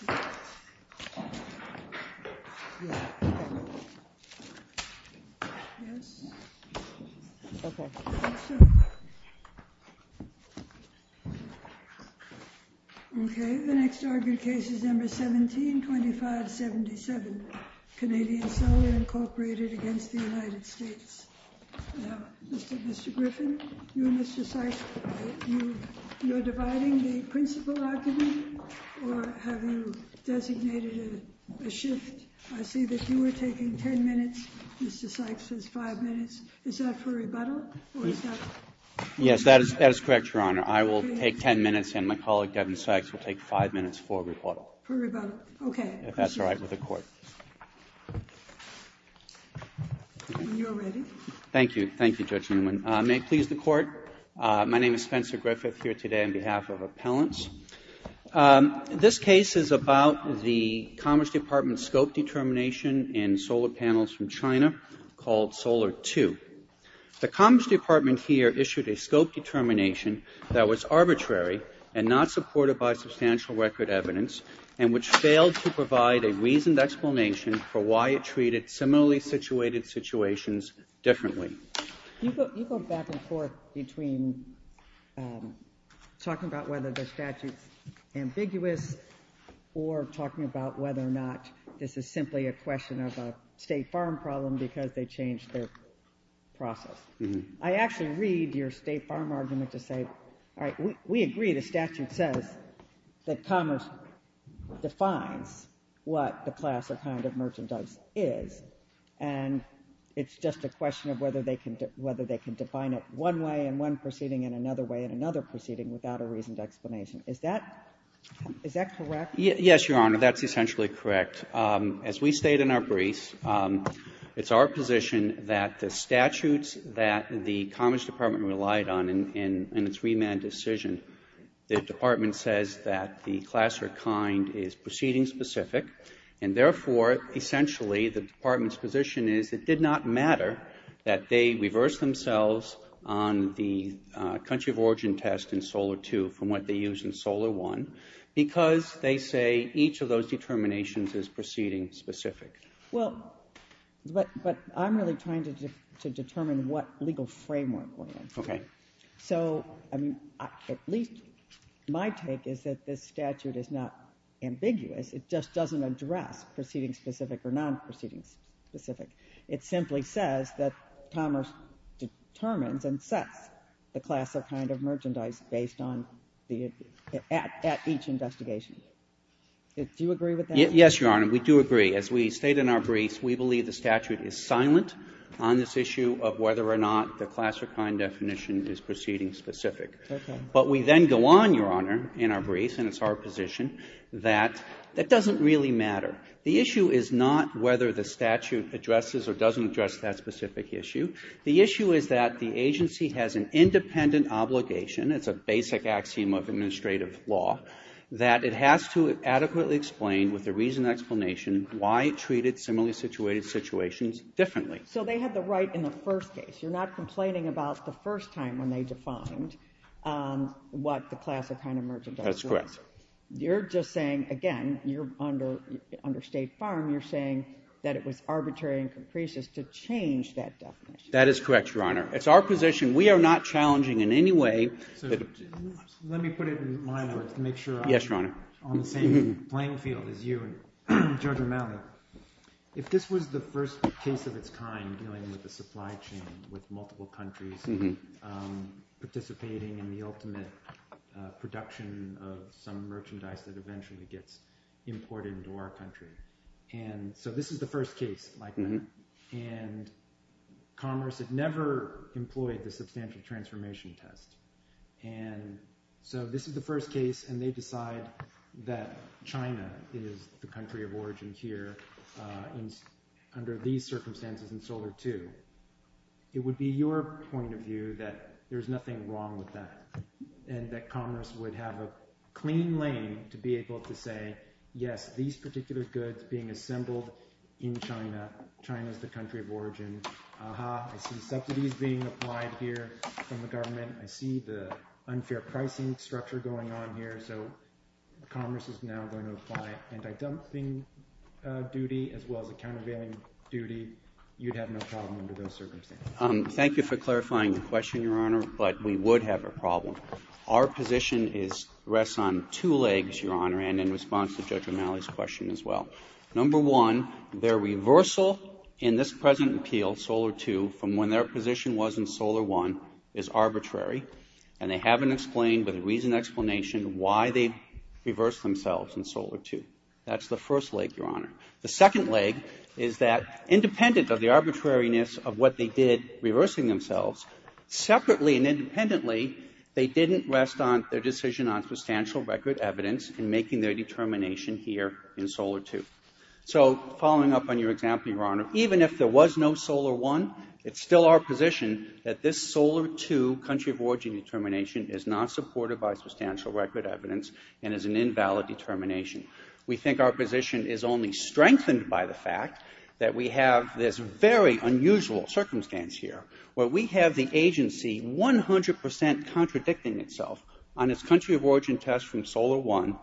The U.S. Embassy in the Philippines The next argued case is No. 17-2577, Canadian Solar, Inc. v. United States Mr. Griffin, you and Mr. Sykes, you're dividing the principle argument, or have you designated a shift? I see that you are taking 10 minutes. Mr. Sykes says 5 minutes. Is that for rebuttal? Yes, that is correct, Your Honor. I will take 10 minutes, and my colleague, Devin Sykes, will take 5 minutes for rebuttal. For rebuttal. Okay. If that's all right with the Court. When you are ready. Thank you. Thank you, Judge Newman. May it please the Court, my name is Spencer Griffith here today on behalf of appellants. This case is about the Commerce Department's scope determination in solar panels from China called Solar II. The Commerce Department here issued a scope determination that was arbitrary and not supported by substantial record evidence and which failed to provide a reasoned explanation for why it treated similarly situated situations differently. You go back and forth between talking about whether the statute is ambiguous or talking about whether or not this is simply a question of a state farm problem because they changed their process. I actually read your state farm argument to say, all right, we agree the statute says that commerce defines what the class of kind of merchandise is, and it's just a question of whether they can define it one way in one proceeding and another way in another proceeding without a reasoned explanation. Is that correct? Yes, Your Honor, that's essentially correct. As we state in our briefs, it's our position that the statutes that the Commerce Department relied on in its remand decision, the Department says that the class or kind is proceeding specific, and therefore, essentially, the Department's position is it did not matter that they reversed themselves on the country of origin test in Solar II from what they used in Solar I because they say each of those determinations is proceeding specific. Well, but I'm really trying to determine what legal framework we're in. Okay. So, I mean, at least my take is that this statute is not ambiguous. It just doesn't address proceeding specific or non-proceeding specific. It simply says that commerce determines and sets the class of kind of merchandise based on the at each investigation. Do you agree with that? Yes, Your Honor. We do agree. As we state in our briefs, we believe the statute is silent on this issue of whether or not the class or kind definition is proceeding specific. Okay. But we then go on, Your Honor, in our briefs, and it's our position that that doesn't really matter. The issue is not whether the statute addresses or doesn't address that specific issue. The issue is that the agency has an independent obligation. It's a basic axiom of administrative law that it has to adequately explain with a reason and explanation why it treated similarly situated situations differently. So they had the right in the first case. You're not complaining about the first time when they defined what the class of kind of merchandise was. That's correct. You're just saying, again, you're under State Farm. You're saying that it was arbitrary and capricious to change that definition. That is correct, Your Honor. It's our position. We are not challenging in any way. Let me put it in my words to make sure I'm on the same playing field as you and Judge O'Malley. If this was the first case of its kind dealing with the supply chain with multiple countries participating in the ultimate production of some merchandise that eventually gets imported into our country. And so this is the first case like that. And Commerce had never employed the substantial transformation test. And so this is the first case. And they decide that China is the country of origin here. Under these circumstances in Solar II, it would be your point of view that there's nothing wrong with that. And that Commerce would have a clean lane to be able to say, yes, these particular goods being assembled in China. China is the country of origin. Aha, I see subsidies being applied here from the government. I see the unfair pricing structure going on here. So Commerce is now going to apply anti-dumping duty as well as a countervailing duty. You'd have no problem under those circumstances. Thank you for clarifying the question, Your Honor. But we would have a problem. Our position rests on two legs, Your Honor, and in response to Judge O'Malley's question as well. Number one, their reversal in this present appeal, Solar II, from when their position was in Solar I, is arbitrary. And they haven't explained with reason and explanation why they reversed themselves in Solar II. That's the first leg, Your Honor. The second leg is that independent of the arbitrariness of what they did reversing themselves, separately and independently, they didn't rest on their decision on substantial record evidence in making their determination here in Solar II. So following up on your example, Your Honor, even if there was no Solar I, it's still our position that this Solar II country of origin determination is not supported by substantial record evidence and is an invalid determination. We think our position is only strengthened by the fact that we have this very unusual circumstance here where we have the agency 100 percent contradicting itself on its country of origin test from Solar I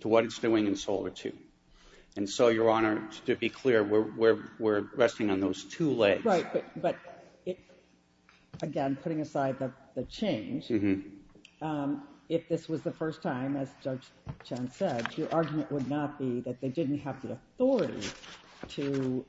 to what it's doing in Solar II. And so, Your Honor, to be clear, we're resting on those two legs. Right, but again, putting aside the change, if this was the first time, as Judge Chen said, your argument would not be that they didn't have the authority to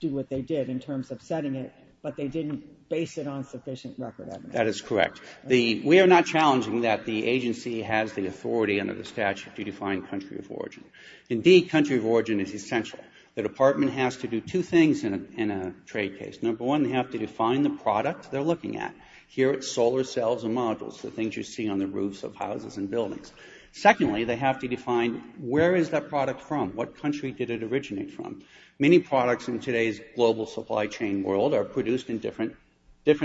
do what they did in terms of setting it, but they didn't base it on sufficient record evidence. That is correct. We are not challenging that the agency has the authority under the statute to define country of origin. Indeed, country of origin is essential. The department has to do two things in a trade case. Number one, they have to define the product they're looking at. Here it's solar cells and modules, the things you see on the roofs of houses and buildings. Secondly, they have to define where is that product from, what country did it originate from. Many products in today's global supply chain world are produced in different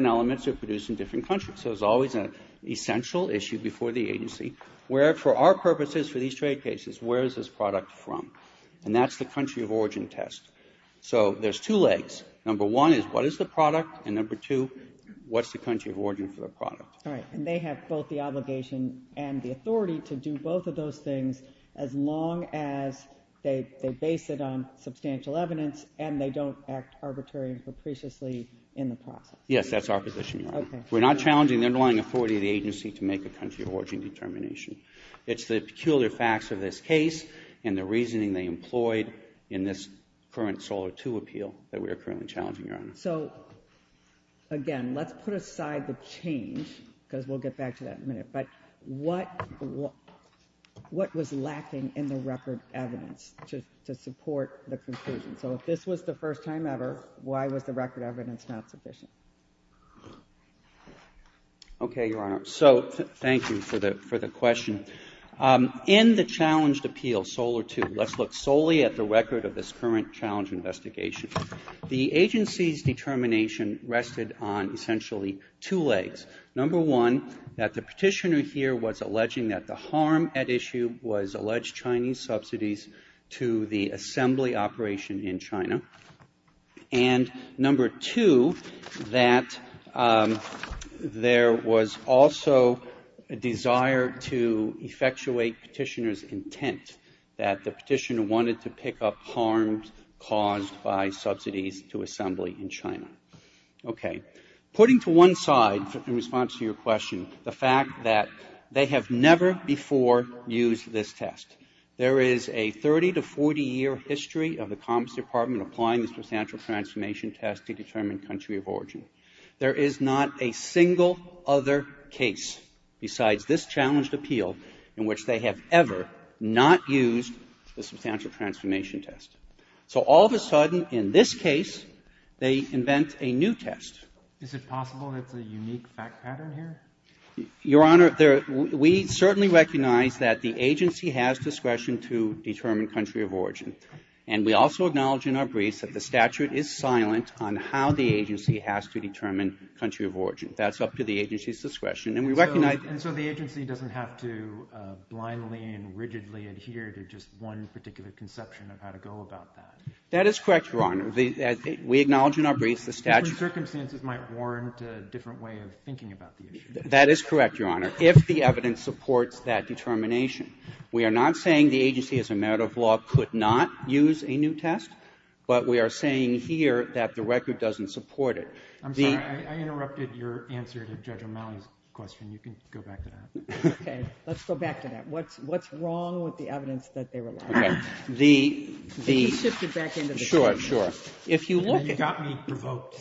elements or produced in different countries. So it's always an essential issue before the agency. Where, for our purposes, for these trade cases, where is this product from? And that's the country of origin test. So there's two legs. Number one is what is the product, and number two, what's the country of origin for the product? All right. And they have both the obligation and the authority to do both of those things as long as they base it on substantial evidence and they don't act arbitrary and capriciously in the process. Yes, that's our position, Your Honor. Okay. We're not challenging the underlying authority of the agency to make a country of origin determination. It's the peculiar facts of this case and the reasoning they employed in this current Solar II appeal that we are currently challenging, Your Honor. So, again, let's put aside the change because we'll get back to that in a minute. But what was lacking in the record evidence to support the conclusion? So if this was the first time ever, why was the record evidence not sufficient? Okay, Your Honor. So thank you for the question. In the challenged appeal, Solar II, let's look solely at the record of this current challenge investigation. The agency's determination rested on essentially two legs. Number one, that the petitioner here was alleging that the harm at issue was alleged Chinese subsidies to the assembly operation in China. And number two, that there was also a desire to effectuate petitioner's intent, that the petitioner wanted to pick up harm caused by subsidies to assembly in China. Okay. Putting to one side, in response to your question, the fact that they have never before used this test. There is a 30 to 40-year history of the Commerce Department applying the substantial transformation test to determine country of origin. There is not a single other case besides this challenged appeal in which they have ever not used the substantial transformation test. So all of a sudden, in this case, they invent a new test. Is it possible it's a unique fact pattern here? Your Honor, we certainly recognize that the agency has discretion to determine country of origin. And we also acknowledge in our briefs that the statute is silent on how the agency has to determine country of origin. That's up to the agency's discretion. And so the agency doesn't have to blindly and rigidly adhere to just one particular conception of how to go about that? That is correct, Your Honor. We acknowledge in our briefs the statute. But circumstances might warrant a different way of thinking about the issue. That is correct, Your Honor, if the evidence supports that determination. We are not saying the agency as a matter of law could not use a new test, but we are saying here that the record doesn't support it. I'm sorry. I interrupted your answer to Judge O'Malley's question. You can go back to that. Okay. Let's go back to that. What's wrong with the evidence that they rely on? Okay. The ---- Could you shift it back into the case? Sure, sure. And you got me provoked.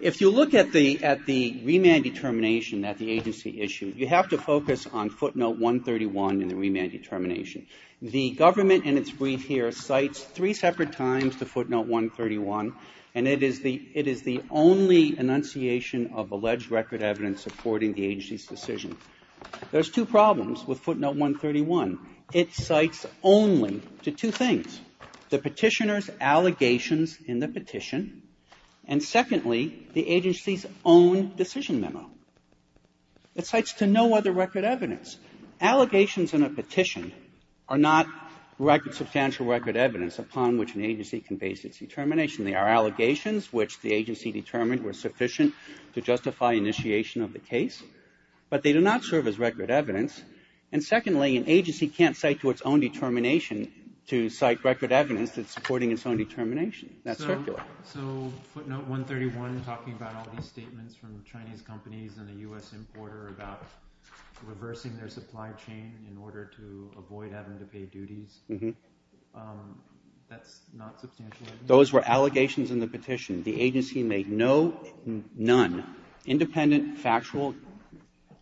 If you look at the remand determination that the agency issued, you have to focus on footnote 131 in the remand determination. The government in its brief here cites three separate times the footnote 131, and it is the only enunciation of alleged record evidence supporting the agency's decision. There's two problems with footnote 131. One, it cites only to two things, the Petitioner's allegations in the petition, and secondly, the agency's own decision memo. It cites to no other record evidence. Allegations in a petition are not record, substantial record evidence upon which an agency can base its determination. They are allegations which the agency determined were sufficient to justify initiation of the case, but they do not serve as record evidence. And secondly, an agency can't cite to its own determination to cite record evidence that's supporting its own determination. That's circular. So footnote 131 talking about all these statements from Chinese companies and the U.S. importer about reversing their supply chain in order to avoid having to pay duties, that's not substantial evidence? Those were allegations in the petition. The agency made no, none, independent factual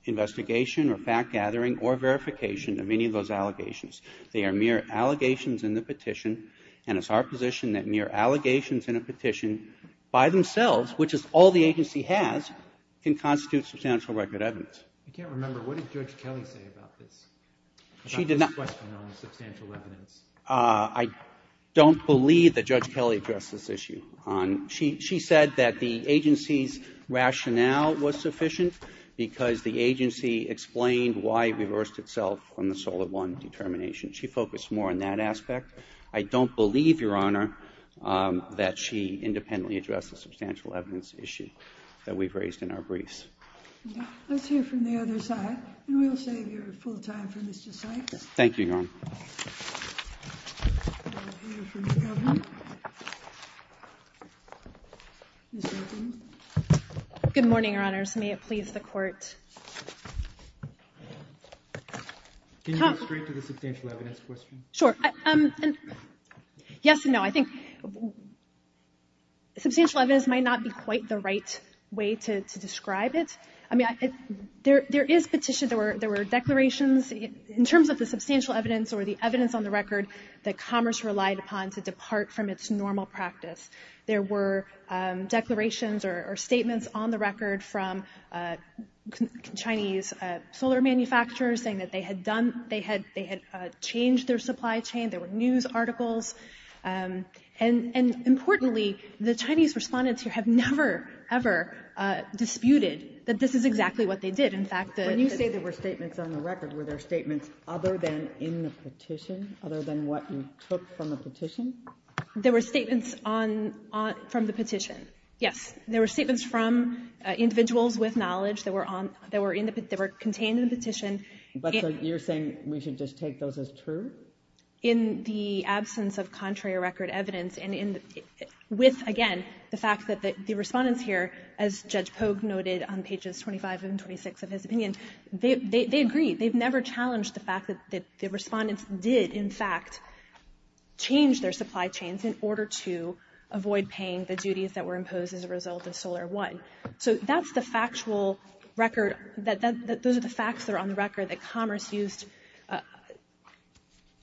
investigation or fact-gathering or verification of any of those allegations. They are mere allegations in the petition, and it's our position that mere allegations in a petition by themselves, which is all the agency has, can constitute substantial record evidence. I can't remember. What did Judge Kelly say about this, about this question on substantial evidence? I don't believe that Judge Kelly addressed this issue. She said that the agency's rationale was sufficient because the agency explained why it reversed itself on the SOLID I determination. She focused more on that aspect. I don't believe, Your Honor, that she independently addressed the substantial evidence issue that we've raised in our briefs. Let's hear from the other side, and we'll save your full time for Mr. Sykes. Thank you, Your Honor. We'll hear from Ms. Melvin. Ms. Melvin. Good morning, Your Honors. May it please the Court. Can you go straight to the substantial evidence question? Sure. Yes and no. I think substantial evidence might not be quite the right way to describe it. I mean, there is petition. There were declarations. In terms of the substantial evidence or the evidence on the record that Commerce relied upon to depart from its normal practice, there were declarations or statements on the record from Chinese solar manufacturers saying that they had changed their supply chain. There were news articles. And importantly, the Chinese respondents here have never, ever disputed that this is exactly what they did. When you say there were statements on the record, were there statements other than in the petition, other than what you took from the petition? There were statements from the petition, yes. There were statements from individuals with knowledge that were contained in the petition. But you're saying we should just take those as true? In the absence of contrary record evidence and with, again, the fact that the respondents here, as Judge Pogue noted on pages 25 and 26 of his opinion, they agree. They've never challenged the fact that the respondents did, in fact, change their supply chains in order to avoid paying the duties that were imposed as a result of Solar I. So that's the factual record. Those are the facts that are on the record that Commerce used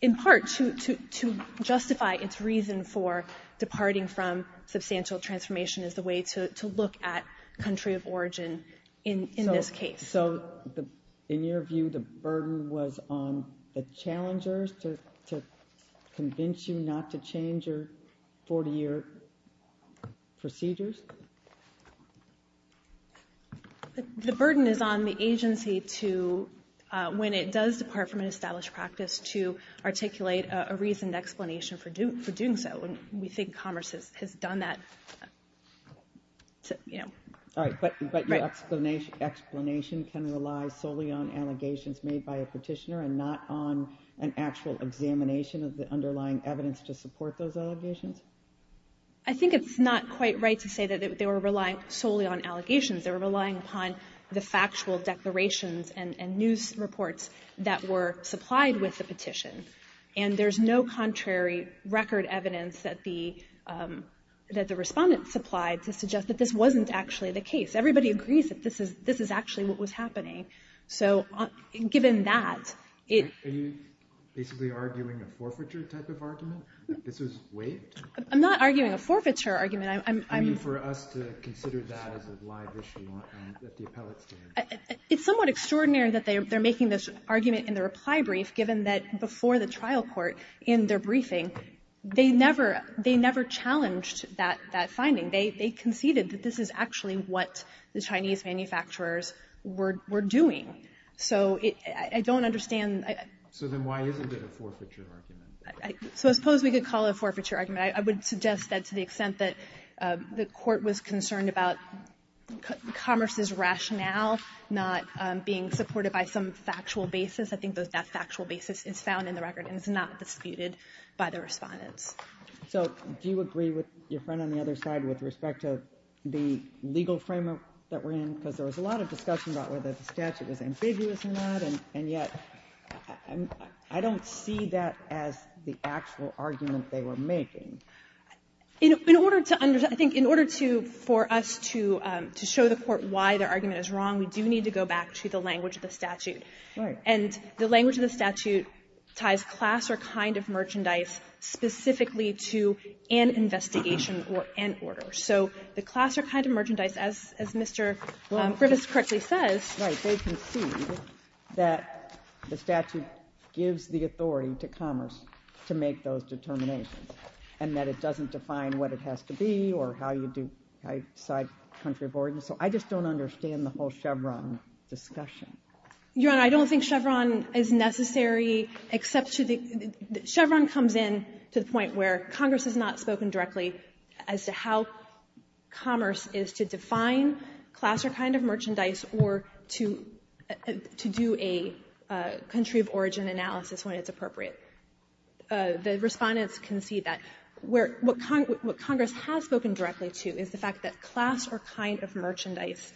in part to justify its reason for departing from substantial transformation as the way to look at country of origin in this case. So in your view, the burden was on the challengers to convince you not to change your 40-year procedures? The burden is on the agency to, when it does depart from an established practice, to articulate a reasoned explanation for doing so. We think Commerce has done that. All right. But your explanation can rely solely on allegations made by a petitioner and not on an actual examination of the underlying evidence to support those allegations? I think it's not quite right to say that they were relying solely on allegations. They were relying upon the factual declarations and news reports that were supplied with the petition. And there's no contrary record evidence that the respondents supplied to suggest that this wasn't actually the case. Everybody agrees that this is actually what was happening. So given that, it – Are you basically arguing a forfeiture type of argument? This was waived? I'm not arguing a forfeiture argument. You mean for us to consider that as a live issue at the appellate stand? It's somewhat extraordinary that they're making this argument in the reply brief, given that before the trial court, in their briefing, they never challenged that finding. They conceded that this is actually what the Chinese manufacturers were doing. So I don't understand. So then why isn't it a forfeiture argument? So I suppose we could call it a forfeiture argument. I would suggest that to the extent that the Court was concerned about commerce's rationale not being supported by some factual basis, I think that that factual basis is found in the record and is not disputed by the respondents. So do you agree with your friend on the other side with respect to the legal framework that we're in? Because there was a lot of discussion about whether the statute was ambiguous in that, and yet I don't see that as the actual argument they were making. In order to understand, I think in order for us to show the Court why their argument is wrong, we do need to go back to the language of the statute. And the language of the statute ties class or kind of merchandise specifically to an investigation or an order. So the class or kind of merchandise, as Mr. Griffiths correctly says. Right. They concede that the statute gives the authority to commerce to make those determinations and that it doesn't define what it has to be or how you decide country of origin. So I just don't understand the whole Chevron discussion. Your Honor, I don't think Chevron is necessary except to the — Chevron comes in to the point where Congress has not spoken directly as to how commerce is to define class or kind of merchandise or to do a country of origin analysis when it's appropriate. The Respondents concede that. What Congress has spoken directly to is the fact that class or kind of merchandise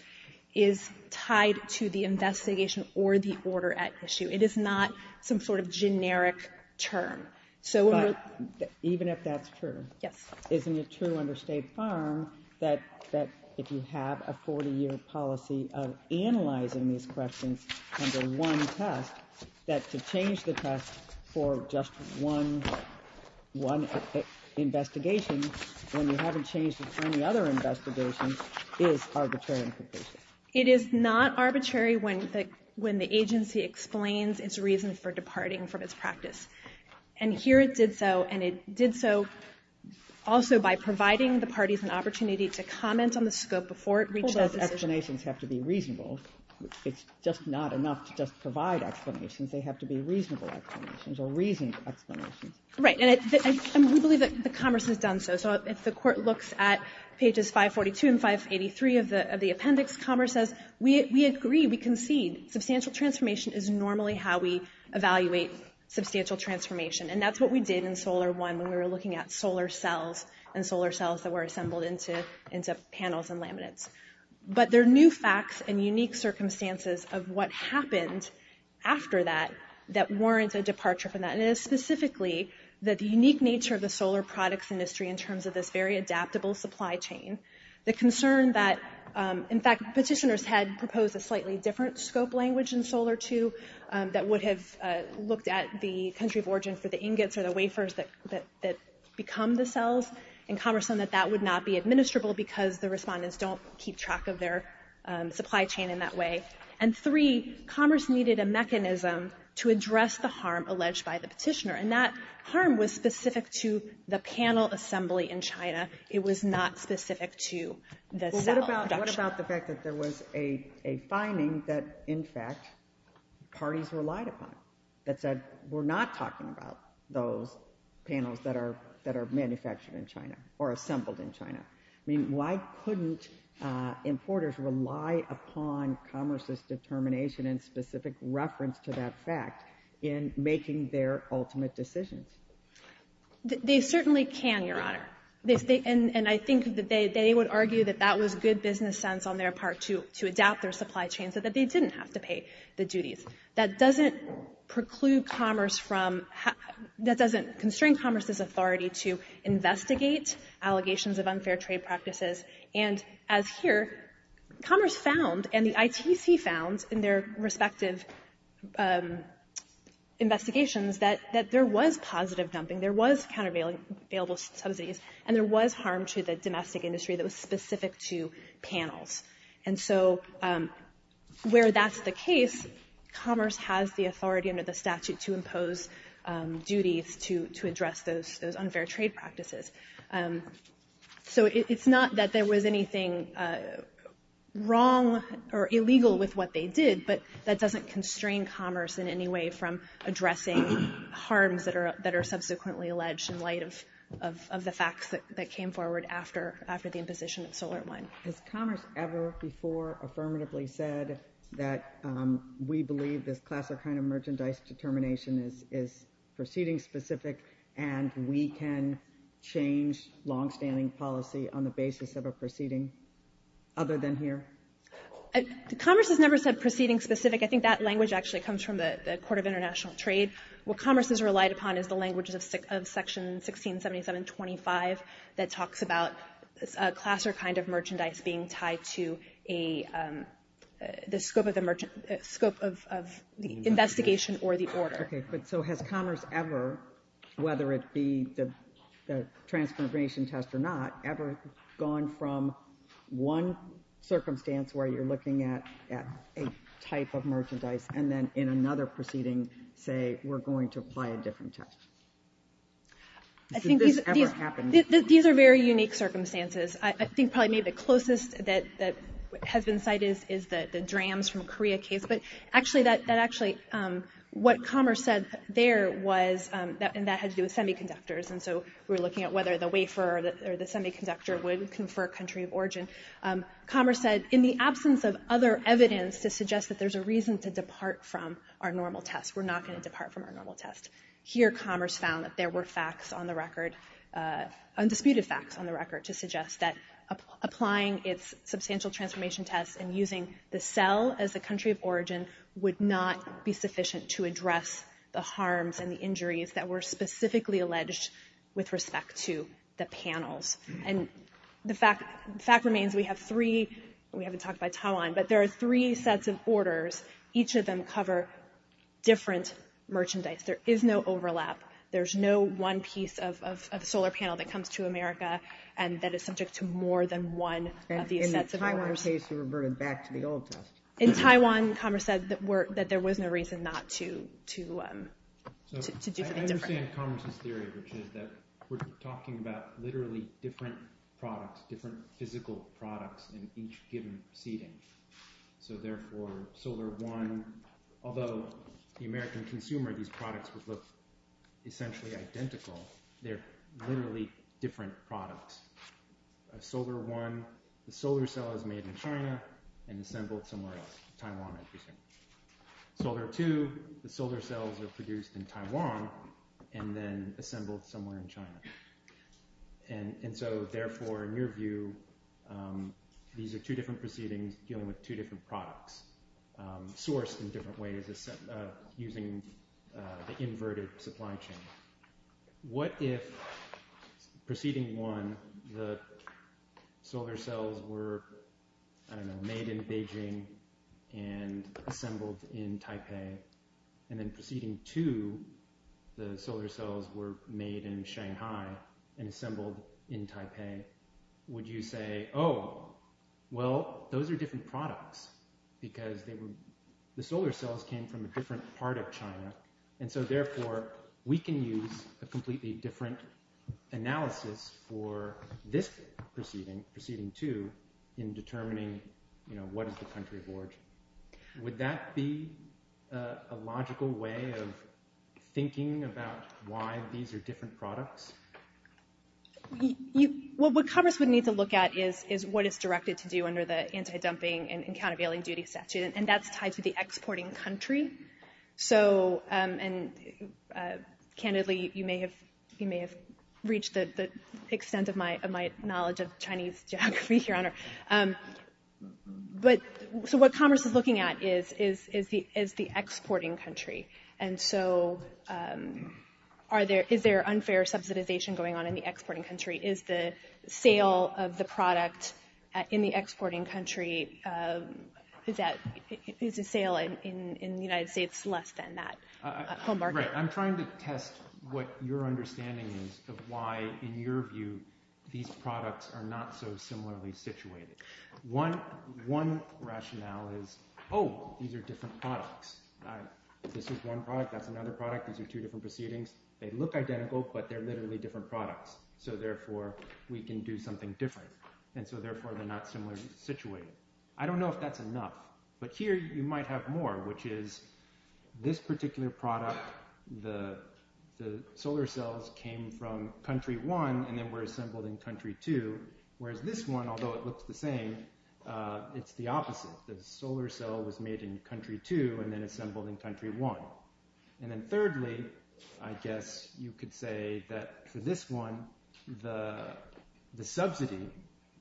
is tied to the investigation or the order at issue. It is not some sort of generic term. But even if that's true, isn't it true under State Farm that if you have a 40-year policy of analyzing these questions under one test, that to change the test for just one investigation when you haven't changed it for any other investigation is arbitrary implication? It is not arbitrary when the agency explains its reason for departing from its practice. And here it did so, and it did so also by providing the parties an opportunity to comment on the scope before it reached that decision. Explanations have to be reasonable. It's just not enough to just provide explanations. They have to be reasonable explanations or reasoned explanations. Right. And we believe that commerce has done so. So if the Court looks at pages 542 and 583 of the appendix, commerce says, we agree, we concede. Substantial transformation is normally how we evaluate substantial transformation. And that's what we did in Solar I when we were looking at solar cells and solar cells that were assembled into panels and laminates. But there are new facts and unique circumstances of what happened after that that warrants a departure from that. And it is specifically that the unique nature of the solar products industry in terms of this very adaptable supply chain, the concern that, in fact, petitioners had proposed a slightly different scope language in Solar II that would have looked at the country of origin for the ingots or the wafers that become the cells, and commerce said that that would not be administrable because the respondents don't keep track of their supply chain in that way. And three, commerce needed a mechanism to address the harm alleged by the petitioner. And that harm was specific to the panel assembly in China. It was not specific to the cell production. Well, what about the fact that there was a finding that, in fact, parties relied upon that said we're not talking about those panels that are manufactured in China or assembled in China? I mean, why couldn't importers rely upon commerce's determination and specific reference to that fact in making their ultimate decisions? They certainly can, Your Honor. And I think that they would argue that that was good business sense on their part to adapt their supply chain so that they didn't have to pay the duties. That doesn't preclude commerce from – that doesn't constrain commerce's authority to investigate allegations of unfair trade practices. And as here, commerce found and the ITC found in their respective investigations that there was positive dumping, there was countervailable subsidies, and there was harm to the domestic industry that was specific to panels. And so where that's the case, commerce has the authority under the statute to impose duties to address those unfair trade practices. So it's not that there was anything wrong or illegal with what they did, but that doesn't constrain commerce in any way from addressing harms that are subsequently alleged in light of the facts that came forward after the imposition of solar wind. Has commerce ever before affirmatively said that we believe this class or kind of merchandise determination is proceeding-specific and we can change longstanding policy on the basis of a proceeding other than here? Commerce has never said proceeding-specific. I think that language actually comes from the Court of International Trade. What commerce has relied upon is the language of Section 1677.25 that talks about a class or kind of merchandise being tied to the scope of the investigation or the order. Okay, but so has commerce ever, whether it be the transconfiguration test or not, ever gone from one circumstance where you're looking at a type of merchandise and then in another proceeding say we're going to apply a different test? Did this ever happen? These are very unique circumstances. I think probably maybe the closest that has been cited is the DRAMS from Korea case, but actually what commerce said there was, and that had to do with semiconductors, and so we were looking at whether the wafer or the semiconductor would confer country of origin. Commerce said in the absence of other evidence to suggest that there's a reason to depart from our normal test, we're not going to depart from our normal test. Here commerce found that there were facts on the record, undisputed facts on the record to suggest that applying its substantial transformation test and using the cell as the country of origin would not be sufficient to address the harms and the injuries that were specifically alleged with respect to the panels. And the fact remains we have three, we haven't talked about Taiwan, but there are three sets of orders. Each of them cover different merchandise. There is no overlap. There's no one piece of solar panel that comes to America and that is subject to more than one of these sets of orders. In the Taiwan case it reverted back to the old test. In Taiwan commerce said that there was no reason not to do something different. I understand commerce's theory, which is that we're talking about literally different products, different physical products in each given seating. So therefore, solar one, although the American consumer, these products would look essentially identical, they're literally different products. Solar one, the solar cell is made in China and assembled somewhere else, Taiwan I presume. Solar two, the solar cells are produced in Taiwan and then assembled somewhere in China. And so therefore, in your view, these are two different proceedings dealing with two different products sourced in different ways using the inverted supply chain. What if proceeding one, the solar cells were, I don't know, made in Beijing and assembled in Taipei and then proceeding two, the solar cells were made in Shanghai and assembled in Taipei. Would you say, oh, well, those are different products because the solar cells came from a different part of China and so therefore, we can use a completely different analysis for this proceeding, proceeding two, in determining what is the country of origin. Would that be a logical way of thinking about why these are different products? Well, what Congress would need to look at is what is directed to do under the anti-dumping and countervailing duty statute. And that's tied to the exporting country. So, and candidly, you may have reached the extent of my knowledge of Chinese geography, Your Honor. But, so what Congress is looking at is the exporting country. And so, is there unfair subsidization going on in the exporting country? Is the sale of the product in the exporting country, is the sale in the United States less than that home market? Right. I'm trying to test what your understanding is of why, in your view, these products are not so similarly situated. One rationale is, oh, these are different products. This is one product, that's another product. These are two different proceedings. They look identical, but they're literally different products. So therefore, we can do something different. And so therefore, they're not similarly situated. I don't know if that's enough, but here you might have more, which is this particular product, the solar cells came from country one and then were assembled in country two. Whereas this one, although it looks the same, it's the opposite. The solar cell was made in country two and then assembled in country one. And then thirdly, I guess you could say that for this one, the subsidy,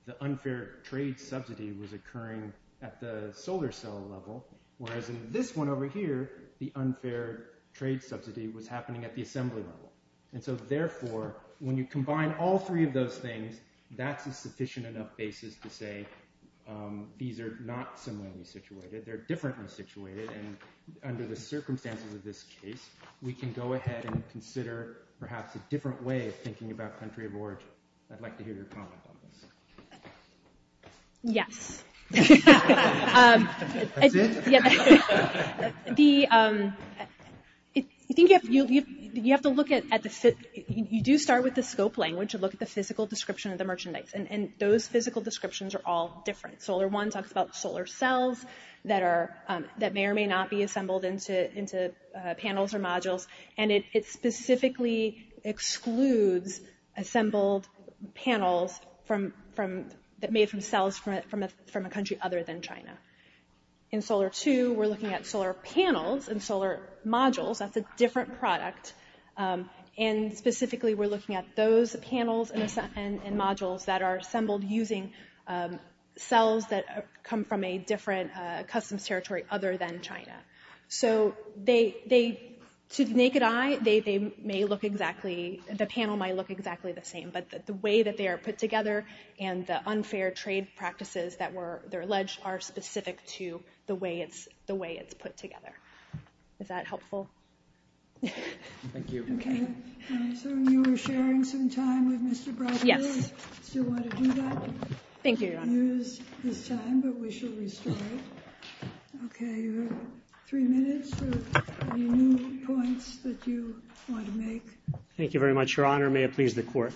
the unfair trade subsidy was occurring at the solar cell level. Whereas in this one over here, the unfair trade subsidy was happening at the assembly level. And so therefore, when you combine all three of those things, that's a sufficient enough basis to say these are not similarly situated. They're differently situated, and under the circumstances of this case, we can go ahead and consider perhaps a different way of thinking about country of origin. I'd like to hear your comment on this. Yes. That's it? You do start with the scope language to look at the physical description of the merchandise, and those physical descriptions are all different. Solar one talks about solar cells that may or may not be assembled into panels or modules, and it specifically excludes assembled panels that are made from cells from a country other than China. In solar two, we're looking at solar panels and solar modules. That's a different product. And specifically, we're looking at those panels and modules that are assembled using cells that come from a different customs territory other than China. So to the naked eye, the panel might look exactly the same, but the way that they are put together and the unfair trade practices that were alleged are specific to the way it's put together. Is that helpful? Thank you. Okay. So you were sharing some time with Mr. Broccoli? Yes. Still want to do that? Thank you, Your Honor. I don't want to use this time, but we shall restore it. Okay. You have three minutes or any new points that you want to make? Thank you very much, Your Honor. May it please the Court.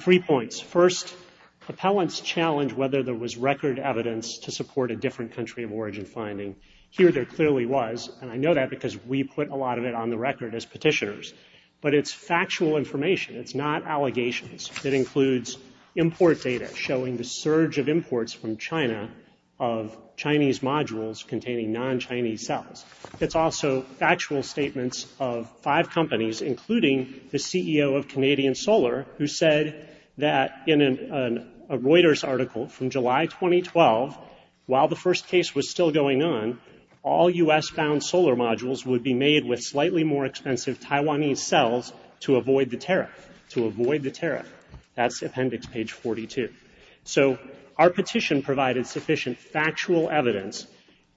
Three points. First, appellants challenge whether there was record evidence to support a different country of origin finding. Here there clearly was, and I know that because we put a lot of it on the record as petitioners. But it's factual information. It's not allegations. It includes import data showing the surge of imports from China of Chinese modules containing non-Chinese cells. It's also factual statements of five companies, including the CEO of Canadian Solar, who said that in a Reuters article from July 2012, while the first case was still going on, all U.S.-bound solar modules would be made with slightly more expensive Taiwanese cells to avoid the tariff. To avoid the tariff. That's appendix page 42. So our petition provided sufficient factual evidence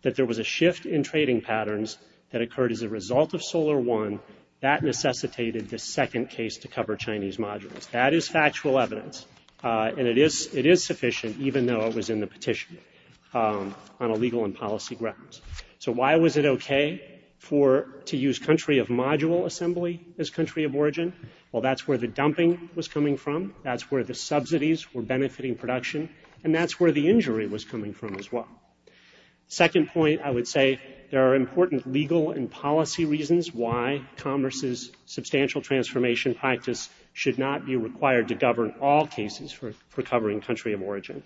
that there was a shift in trading patterns that occurred as a result of Solar One. That necessitated the second case to cover Chinese modules. That is factual evidence. And it is sufficient, even though it was in the petition on a legal and policy grounds. So why was it okay for to use country of module assembly as country of origin? Well, that's where the dumping was coming from. That's where the subsidies were benefiting production. And that's where the injury was coming from as well. Second point, I would say there are important legal and policy reasons why Commerce's to govern all cases for covering country of origin.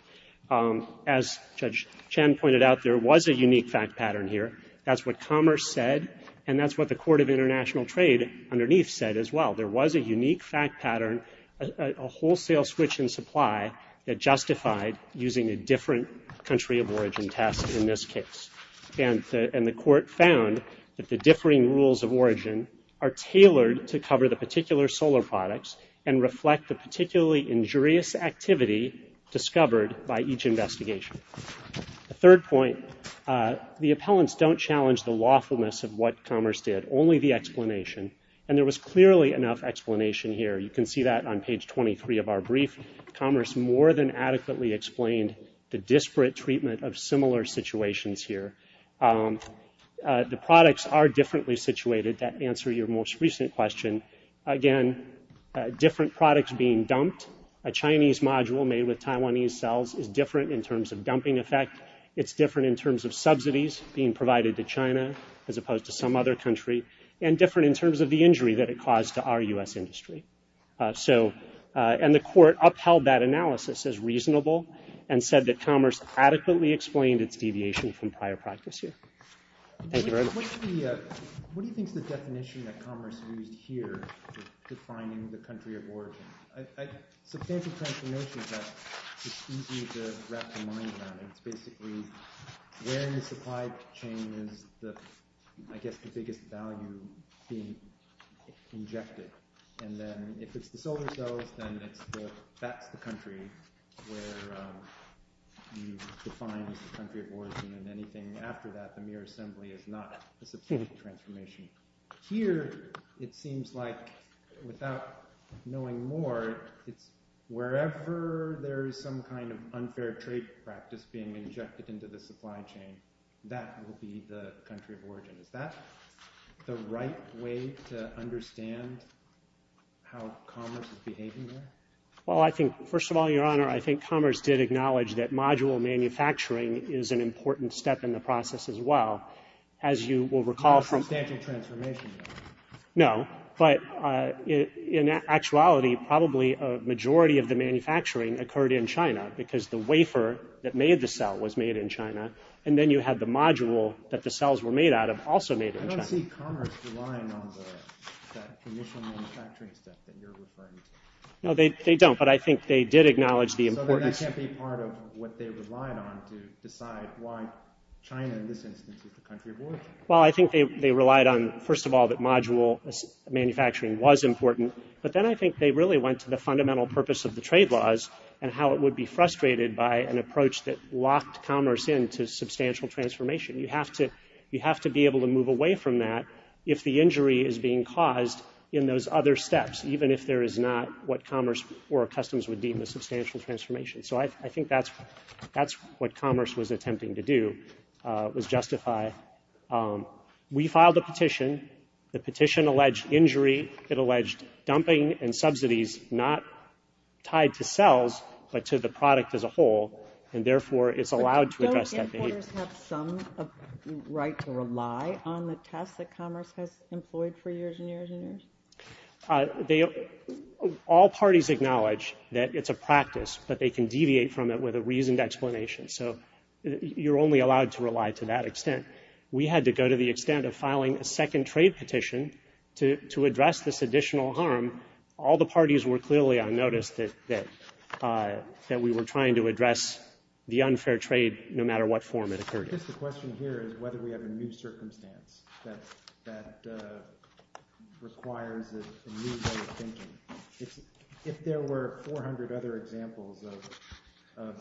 As Judge Chen pointed out, there was a unique fact pattern here. That's what Commerce said. And that's what the Court of International Trade underneath said as well. There was a unique fact pattern, a wholesale switch in supply that justified using a different country of origin test in this case. And the court found that the differing rules of origin are tailored to cover the particular solar products and reflect the particularly injurious activity discovered by each investigation. The third point, the appellants don't challenge the lawfulness of what Commerce did, only the explanation. And there was clearly enough explanation here. You can see that on page 23 of our brief. Commerce more than adequately explained the disparate treatment of similar situations here. The products are differently situated. That answers your most recent question. Again, different products being dumped. A Chinese module made with Taiwanese cells is different in terms of dumping effect. It's different in terms of subsidies being provided to China as opposed to some other country and different in terms of the injury that it caused to our U.S. industry. And the court upheld that analysis as reasonable and said that Commerce adequately explained its deviation from prior practice here. Thank you very much. What do you think is the definition that Commerce used here defining the country of origin? Substantive transformation test is easy to wrap your mind around. It's basically where in the supply chain is the – I guess the biggest value being injected. And then if it's the solar cells, then it's the – that's the country where you define as the country of origin. And anything after that, the mere assembly is not a substantive transformation. Here, it seems like without knowing more, it's wherever there is some kind of unfair trade practice being injected into the supply chain, that will be the country of origin. Is that the right way to understand how Commerce is behaving here? Well, I think – first of all, Your Honor, I think Commerce did acknowledge that module manufacturing is an important step in the process as well. As you will recall from – Substantive transformation. No. But in actuality, probably a majority of the manufacturing occurred in China because the wafer that made the cell was made in China. And then you have the module that the cells were made out of also made in China. I don't see Commerce relying on that initial manufacturing step that you're referring to. No, they don't. But I think they did acknowledge the importance. So then that can't be part of what they relied on to decide why China, in this instance, is the country of origin. Well, I think they relied on, first of all, that module manufacturing was important. But then I think they really went to the fundamental purpose of the trade laws and how it would be frustrated by an approach that locked Commerce into substantial transformation. You have to be able to move away from that if the injury is being caused in those other steps, even if there is not what Commerce or Customs would deem a substantial transformation. So I think that's what Commerce was attempting to do, was justify. We filed a petition. The petition alleged injury. It alleged dumping and subsidies not tied to cells but to the product as a whole, and therefore it's allowed to address that behavior. But don't importers have some right to rely on the tests that Commerce has employed for years and years and years? All parties acknowledge that it's a practice, but they can deviate from it with a reasoned explanation. So you're only allowed to rely to that extent. We had to go to the extent of filing a second trade petition to address this additional harm. All the parties were clearly on notice that we were trying to address the unfair trade no matter what form it occurred in. I guess the question here is whether we have a new circumstance that requires a new way of thinking. If there were 400 other examples of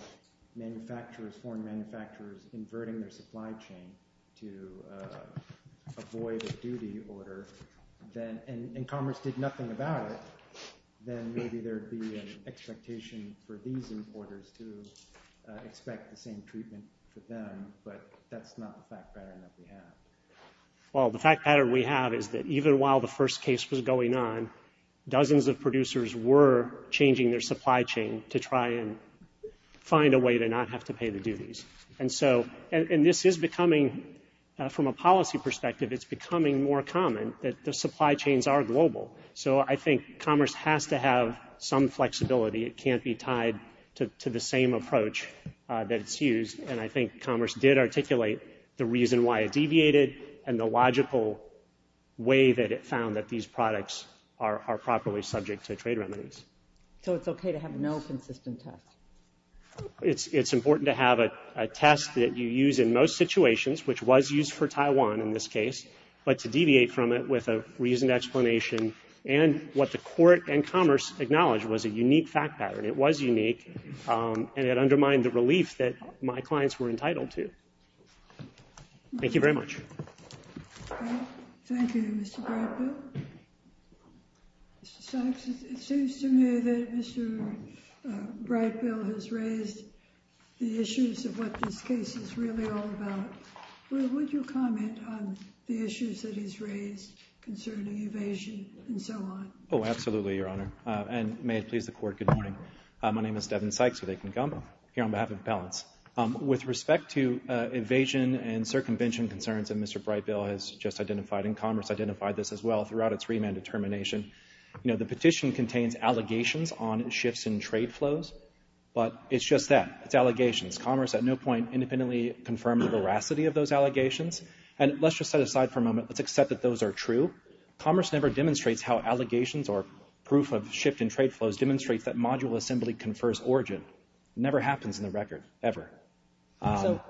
foreign manufacturers inverting their supply chain to avoid a duty order and Commerce did nothing about it, then maybe there would be an expectation for these importers to expect the same treatment for them. But that's not the fact pattern that we have. Well, the fact pattern we have is that even while the first case was going on, dozens of producers were changing their supply chain to try and find a way to not have to pay the duties. And this is becoming, from a policy perspective, it's becoming more common that the supply chains are global. So I think Commerce has to have some flexibility. It can't be tied to the same approach that it's used. And I think Commerce did articulate the reason why it deviated and the logical way that it found that these products are properly subject to trade remedies. So it's okay to have no consistent test? It's important to have a test that you use in most situations, which was used for Taiwan in this case, but to deviate from it with a reasoned explanation. And what the court and Commerce acknowledged was a unique fact pattern. It was unique, and it undermined the relief that my clients were entitled to. Thank you very much. Thank you, Mr. Bradfield. Mr. Sykes, it seems to me that Mr. Bradfield has raised the issues of what this case is really all about. Would you comment on the issues that he's raised concerning evasion and so on? Oh, absolutely, Your Honor. And may it please the Court, good morning. My name is Devin Sykes with Akin Gamba here on behalf of balance. With respect to evasion and circumvention concerns that Mr. Bradfield has just identified, and Commerce identified this as well throughout its remand determination, the petition contains allegations on shifts in trade flows, but it's just that. It's allegations. Commerce at no point independently confirmed the veracity of those allegations. And let's just set aside for a moment. Let's accept that those are true. Commerce never demonstrates how allegations or proof of shift in trade flows demonstrates that module assembly confers origin. It never happens in the record, ever. So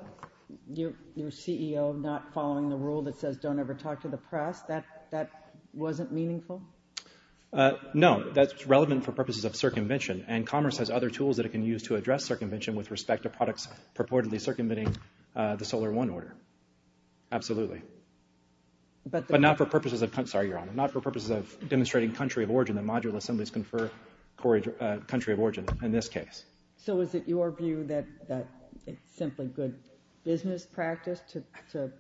your CEO not following the rule that says don't ever talk to the press, that wasn't meaningful? No, that's relevant for purposes of circumvention, and Commerce has other tools that it can use to address circumvention with respect to products purportedly circumventing the Solar One order. Absolutely. But not for purposes of demonstrating country of origin. The module assemblies confer country of origin in this case. So is it your view that it's simply good business practice to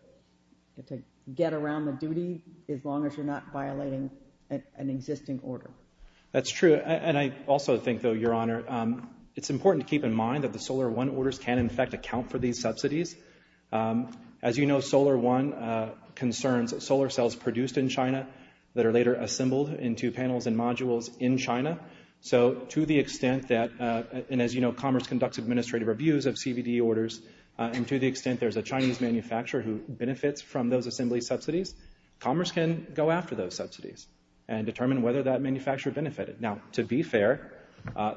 get around the duty as long as you're not violating an existing order? That's true. And I also think, though, Your Honor, it's important to keep in mind that the Solar One orders can in fact account for these subsidies. As you know, Solar One concerns solar cells produced in China that are later assembled into panels and modules in China. So to the extent that, and as you know, Commerce conducts administrative reviews of CBD orders, and to the extent there's a Chinese manufacturer who benefits from those assembly subsidies, Commerce can go after those subsidies and determine whether that manufacturer benefited. Now, to be fair,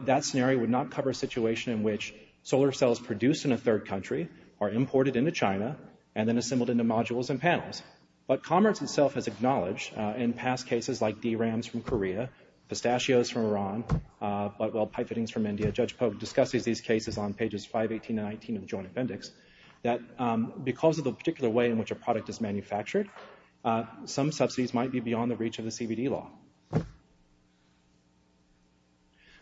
that scenario would not cover a situation in which solar cells produced in a third country are imported into China and then assembled into modules and panels. But Commerce itself has acknowledged in past cases like DRAMs from Korea, pistachios from Iran, butwell pipettings from India, Judge Polk discusses these cases on pages 518 and 519 of the Joint Appendix, that because of the particular way in which a product is manufactured, some subsidies might be beyond the reach of the CBD law.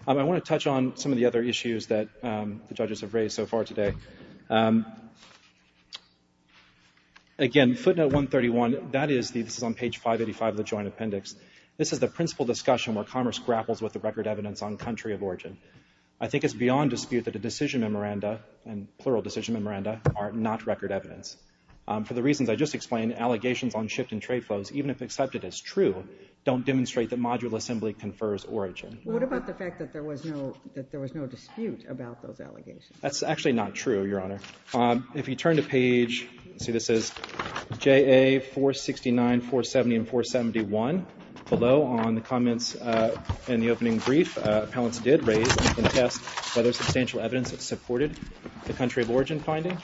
I want to touch on some of the other issues that the judges have raised so far today. Again, footnote 131, this is on page 585 of the Joint Appendix. This is the principal discussion where Commerce grapples with the record evidence on country of origin. I think it's beyond dispute that a decision memoranda, and plural decision memoranda, are not record evidence. For the reasons I just explained, allegations on shift in trade flows, even if accepted as true, don't demonstrate that module assembly confers origin. What about the fact that there was no dispute about those allegations? That's actually not true, Your Honor. If you turn to page, let's see, this is JA 469, 470, and 471. Below on the comments in the opening brief, appellants did raise and contest whether substantial evidence supported the country of origin finding.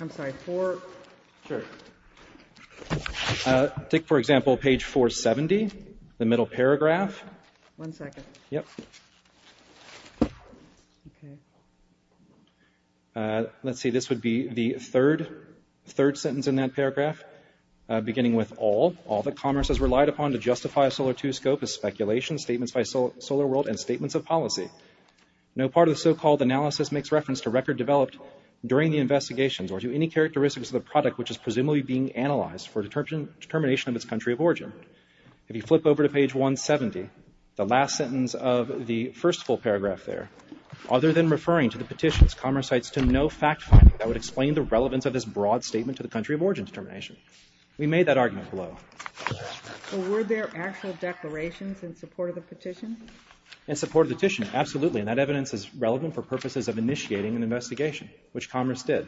I'm sorry, 4? Sure. Take, for example, page 470, the middle paragraph. One second. Yep. Okay. Let's see, this would be the third sentence in that paragraph, beginning with, All that Commerce has relied upon to justify a Solar II scope is speculation, statements by Solar World, and statements of policy. No part of the so-called analysis makes reference to record developed during the investigations or to any characteristics of the product which is presumably being analyzed for determination of its country of origin. If you flip over to page 170, the last sentence of the first full paragraph there, Other than referring to the petitions, Commerce cites to no fact-finding that would explain the relevance of this broad statement to the country of origin determination. We made that argument below. Were there actual declarations in support of the petition? In support of the petition, absolutely, and that evidence is relevant for purposes of initiating an investigation, which Commerce did.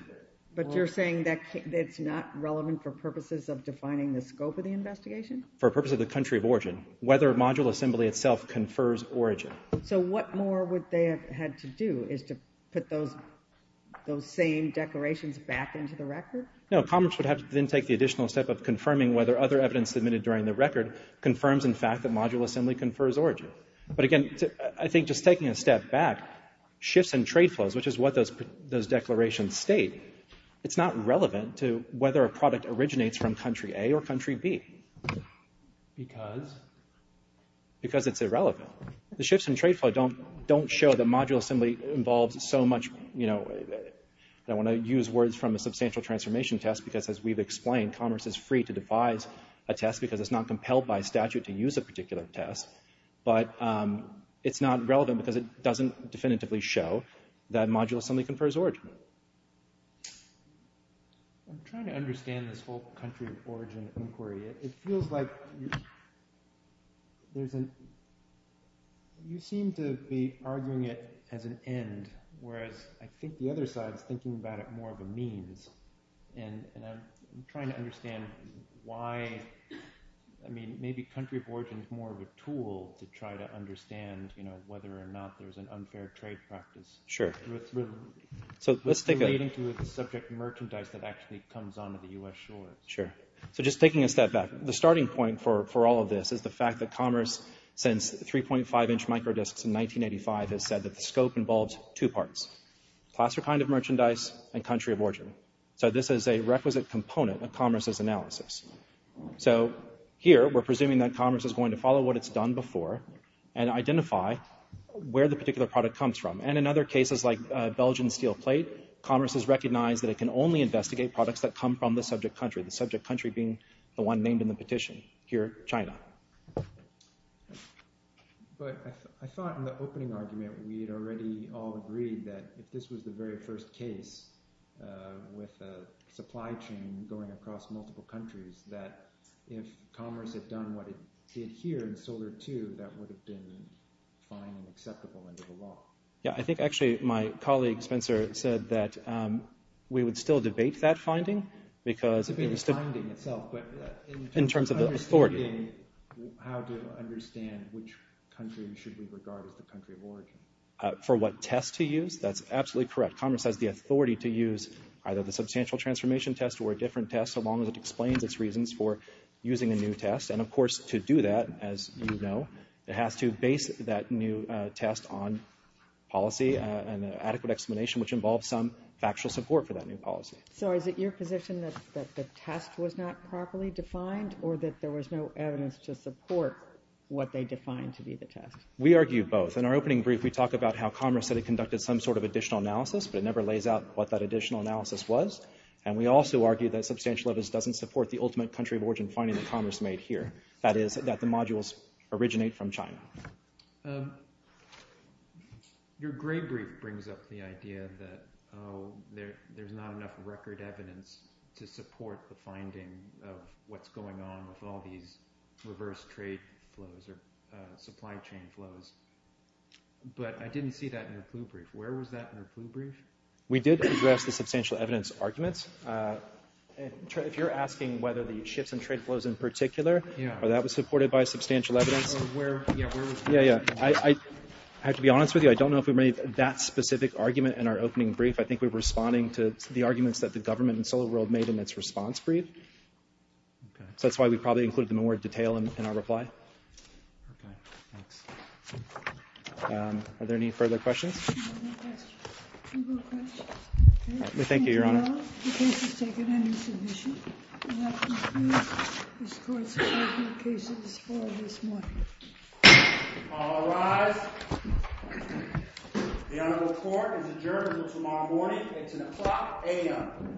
But you're saying that it's not relevant for purposes of defining the scope of the investigation? For purposes of the country of origin. Whether a module assembly itself confers origin. So what more would they have had to do, is to put those same declarations back into the record? No, Commerce would have to then take the additional step of confirming whether other evidence submitted during the record confirms in fact that module assembly confers origin. But again, I think just taking a step back, shifts in trade flows, which is what those declarations state, it's not relevant to whether a product originates from country A or country B. Because? Because it's irrelevant. The shifts in trade flow don't show that module assembly involves so much, you know, I don't want to use words from a substantial transformation test, because as we've explained, Commerce is free to devise a test because it's not compelled by statute to use a particular test. But it's not relevant because it doesn't definitively show that module assembly confers origin. I'm trying to understand this whole country of origin inquiry. It feels like you seem to be arguing it as an end, whereas I think the other side is thinking about it more of a means. And I'm trying to understand why, I mean, maybe country of origin is more of a tool to try to understand, you know, whether or not there's an unfair trade practice. Sure. Relating to the subject of merchandise that actually comes onto the U.S. shore. Sure. So just taking a step back, the starting point for all of this is the fact that Commerce, since 3.5 inch micro disks in 1985, has said that the scope involves two parts. Class or kind of merchandise and country of origin. So this is a requisite component of Commerce's analysis. So here we're presuming that Commerce is going to follow what it's done before and identify where the particular product comes from. And in other cases like Belgian steel plate, Commerce has recognized that it can only investigate products that come from the subject country, the subject country being the one named in the petition. Here, China. But I thought in the opening argument we had already all agreed that if this was the very first case with a supply chain going across multiple countries, that if Commerce had done what it did here in Solar II, that would have been fine and acceptable under the law. Yeah, I think actually my colleague, Spencer, said that we would still debate that finding because In terms of the authority. For what test to use? That's absolutely correct. Commerce has the authority to use either the substantial transformation test or a different test so long as it explains its reasons for using a new test. And of course to do that, as you know, it has to base that new test on policy and an adequate explanation which involves some factual support for that new policy. So is it your position that the test was not properly defined or that there was no evidence to support what they defined to be the test? We argue both. In our opening brief, we talk about how Commerce said it conducted some sort of additional analysis, but it never lays out what that additional analysis was. And we also argue that substantial evidence doesn't support the ultimate country of origin finding that Commerce made here, that is, that the modules originate from China. Your gray brief brings up the idea that there's not enough record evidence to support the finding of what's going on with all these reverse trade flows or supply chain flows. But I didn't see that in the blue brief. Where was that in the blue brief? We did address the substantial evidence arguments. If you're asking whether the shifts in trade flows in particular, that was supported by substantial evidence. Yeah, yeah. I have to be honest with you. I don't know if we made that specific argument in our opening brief. I think we were responding to the arguments that the government in SolarWorld made in its response brief. So that's why we probably included them in more detail in our reply. Are there any further questions? Thank you, Your Honor. All rise. The Honorable Court is adjourned until tomorrow morning at 10 o'clock a.m.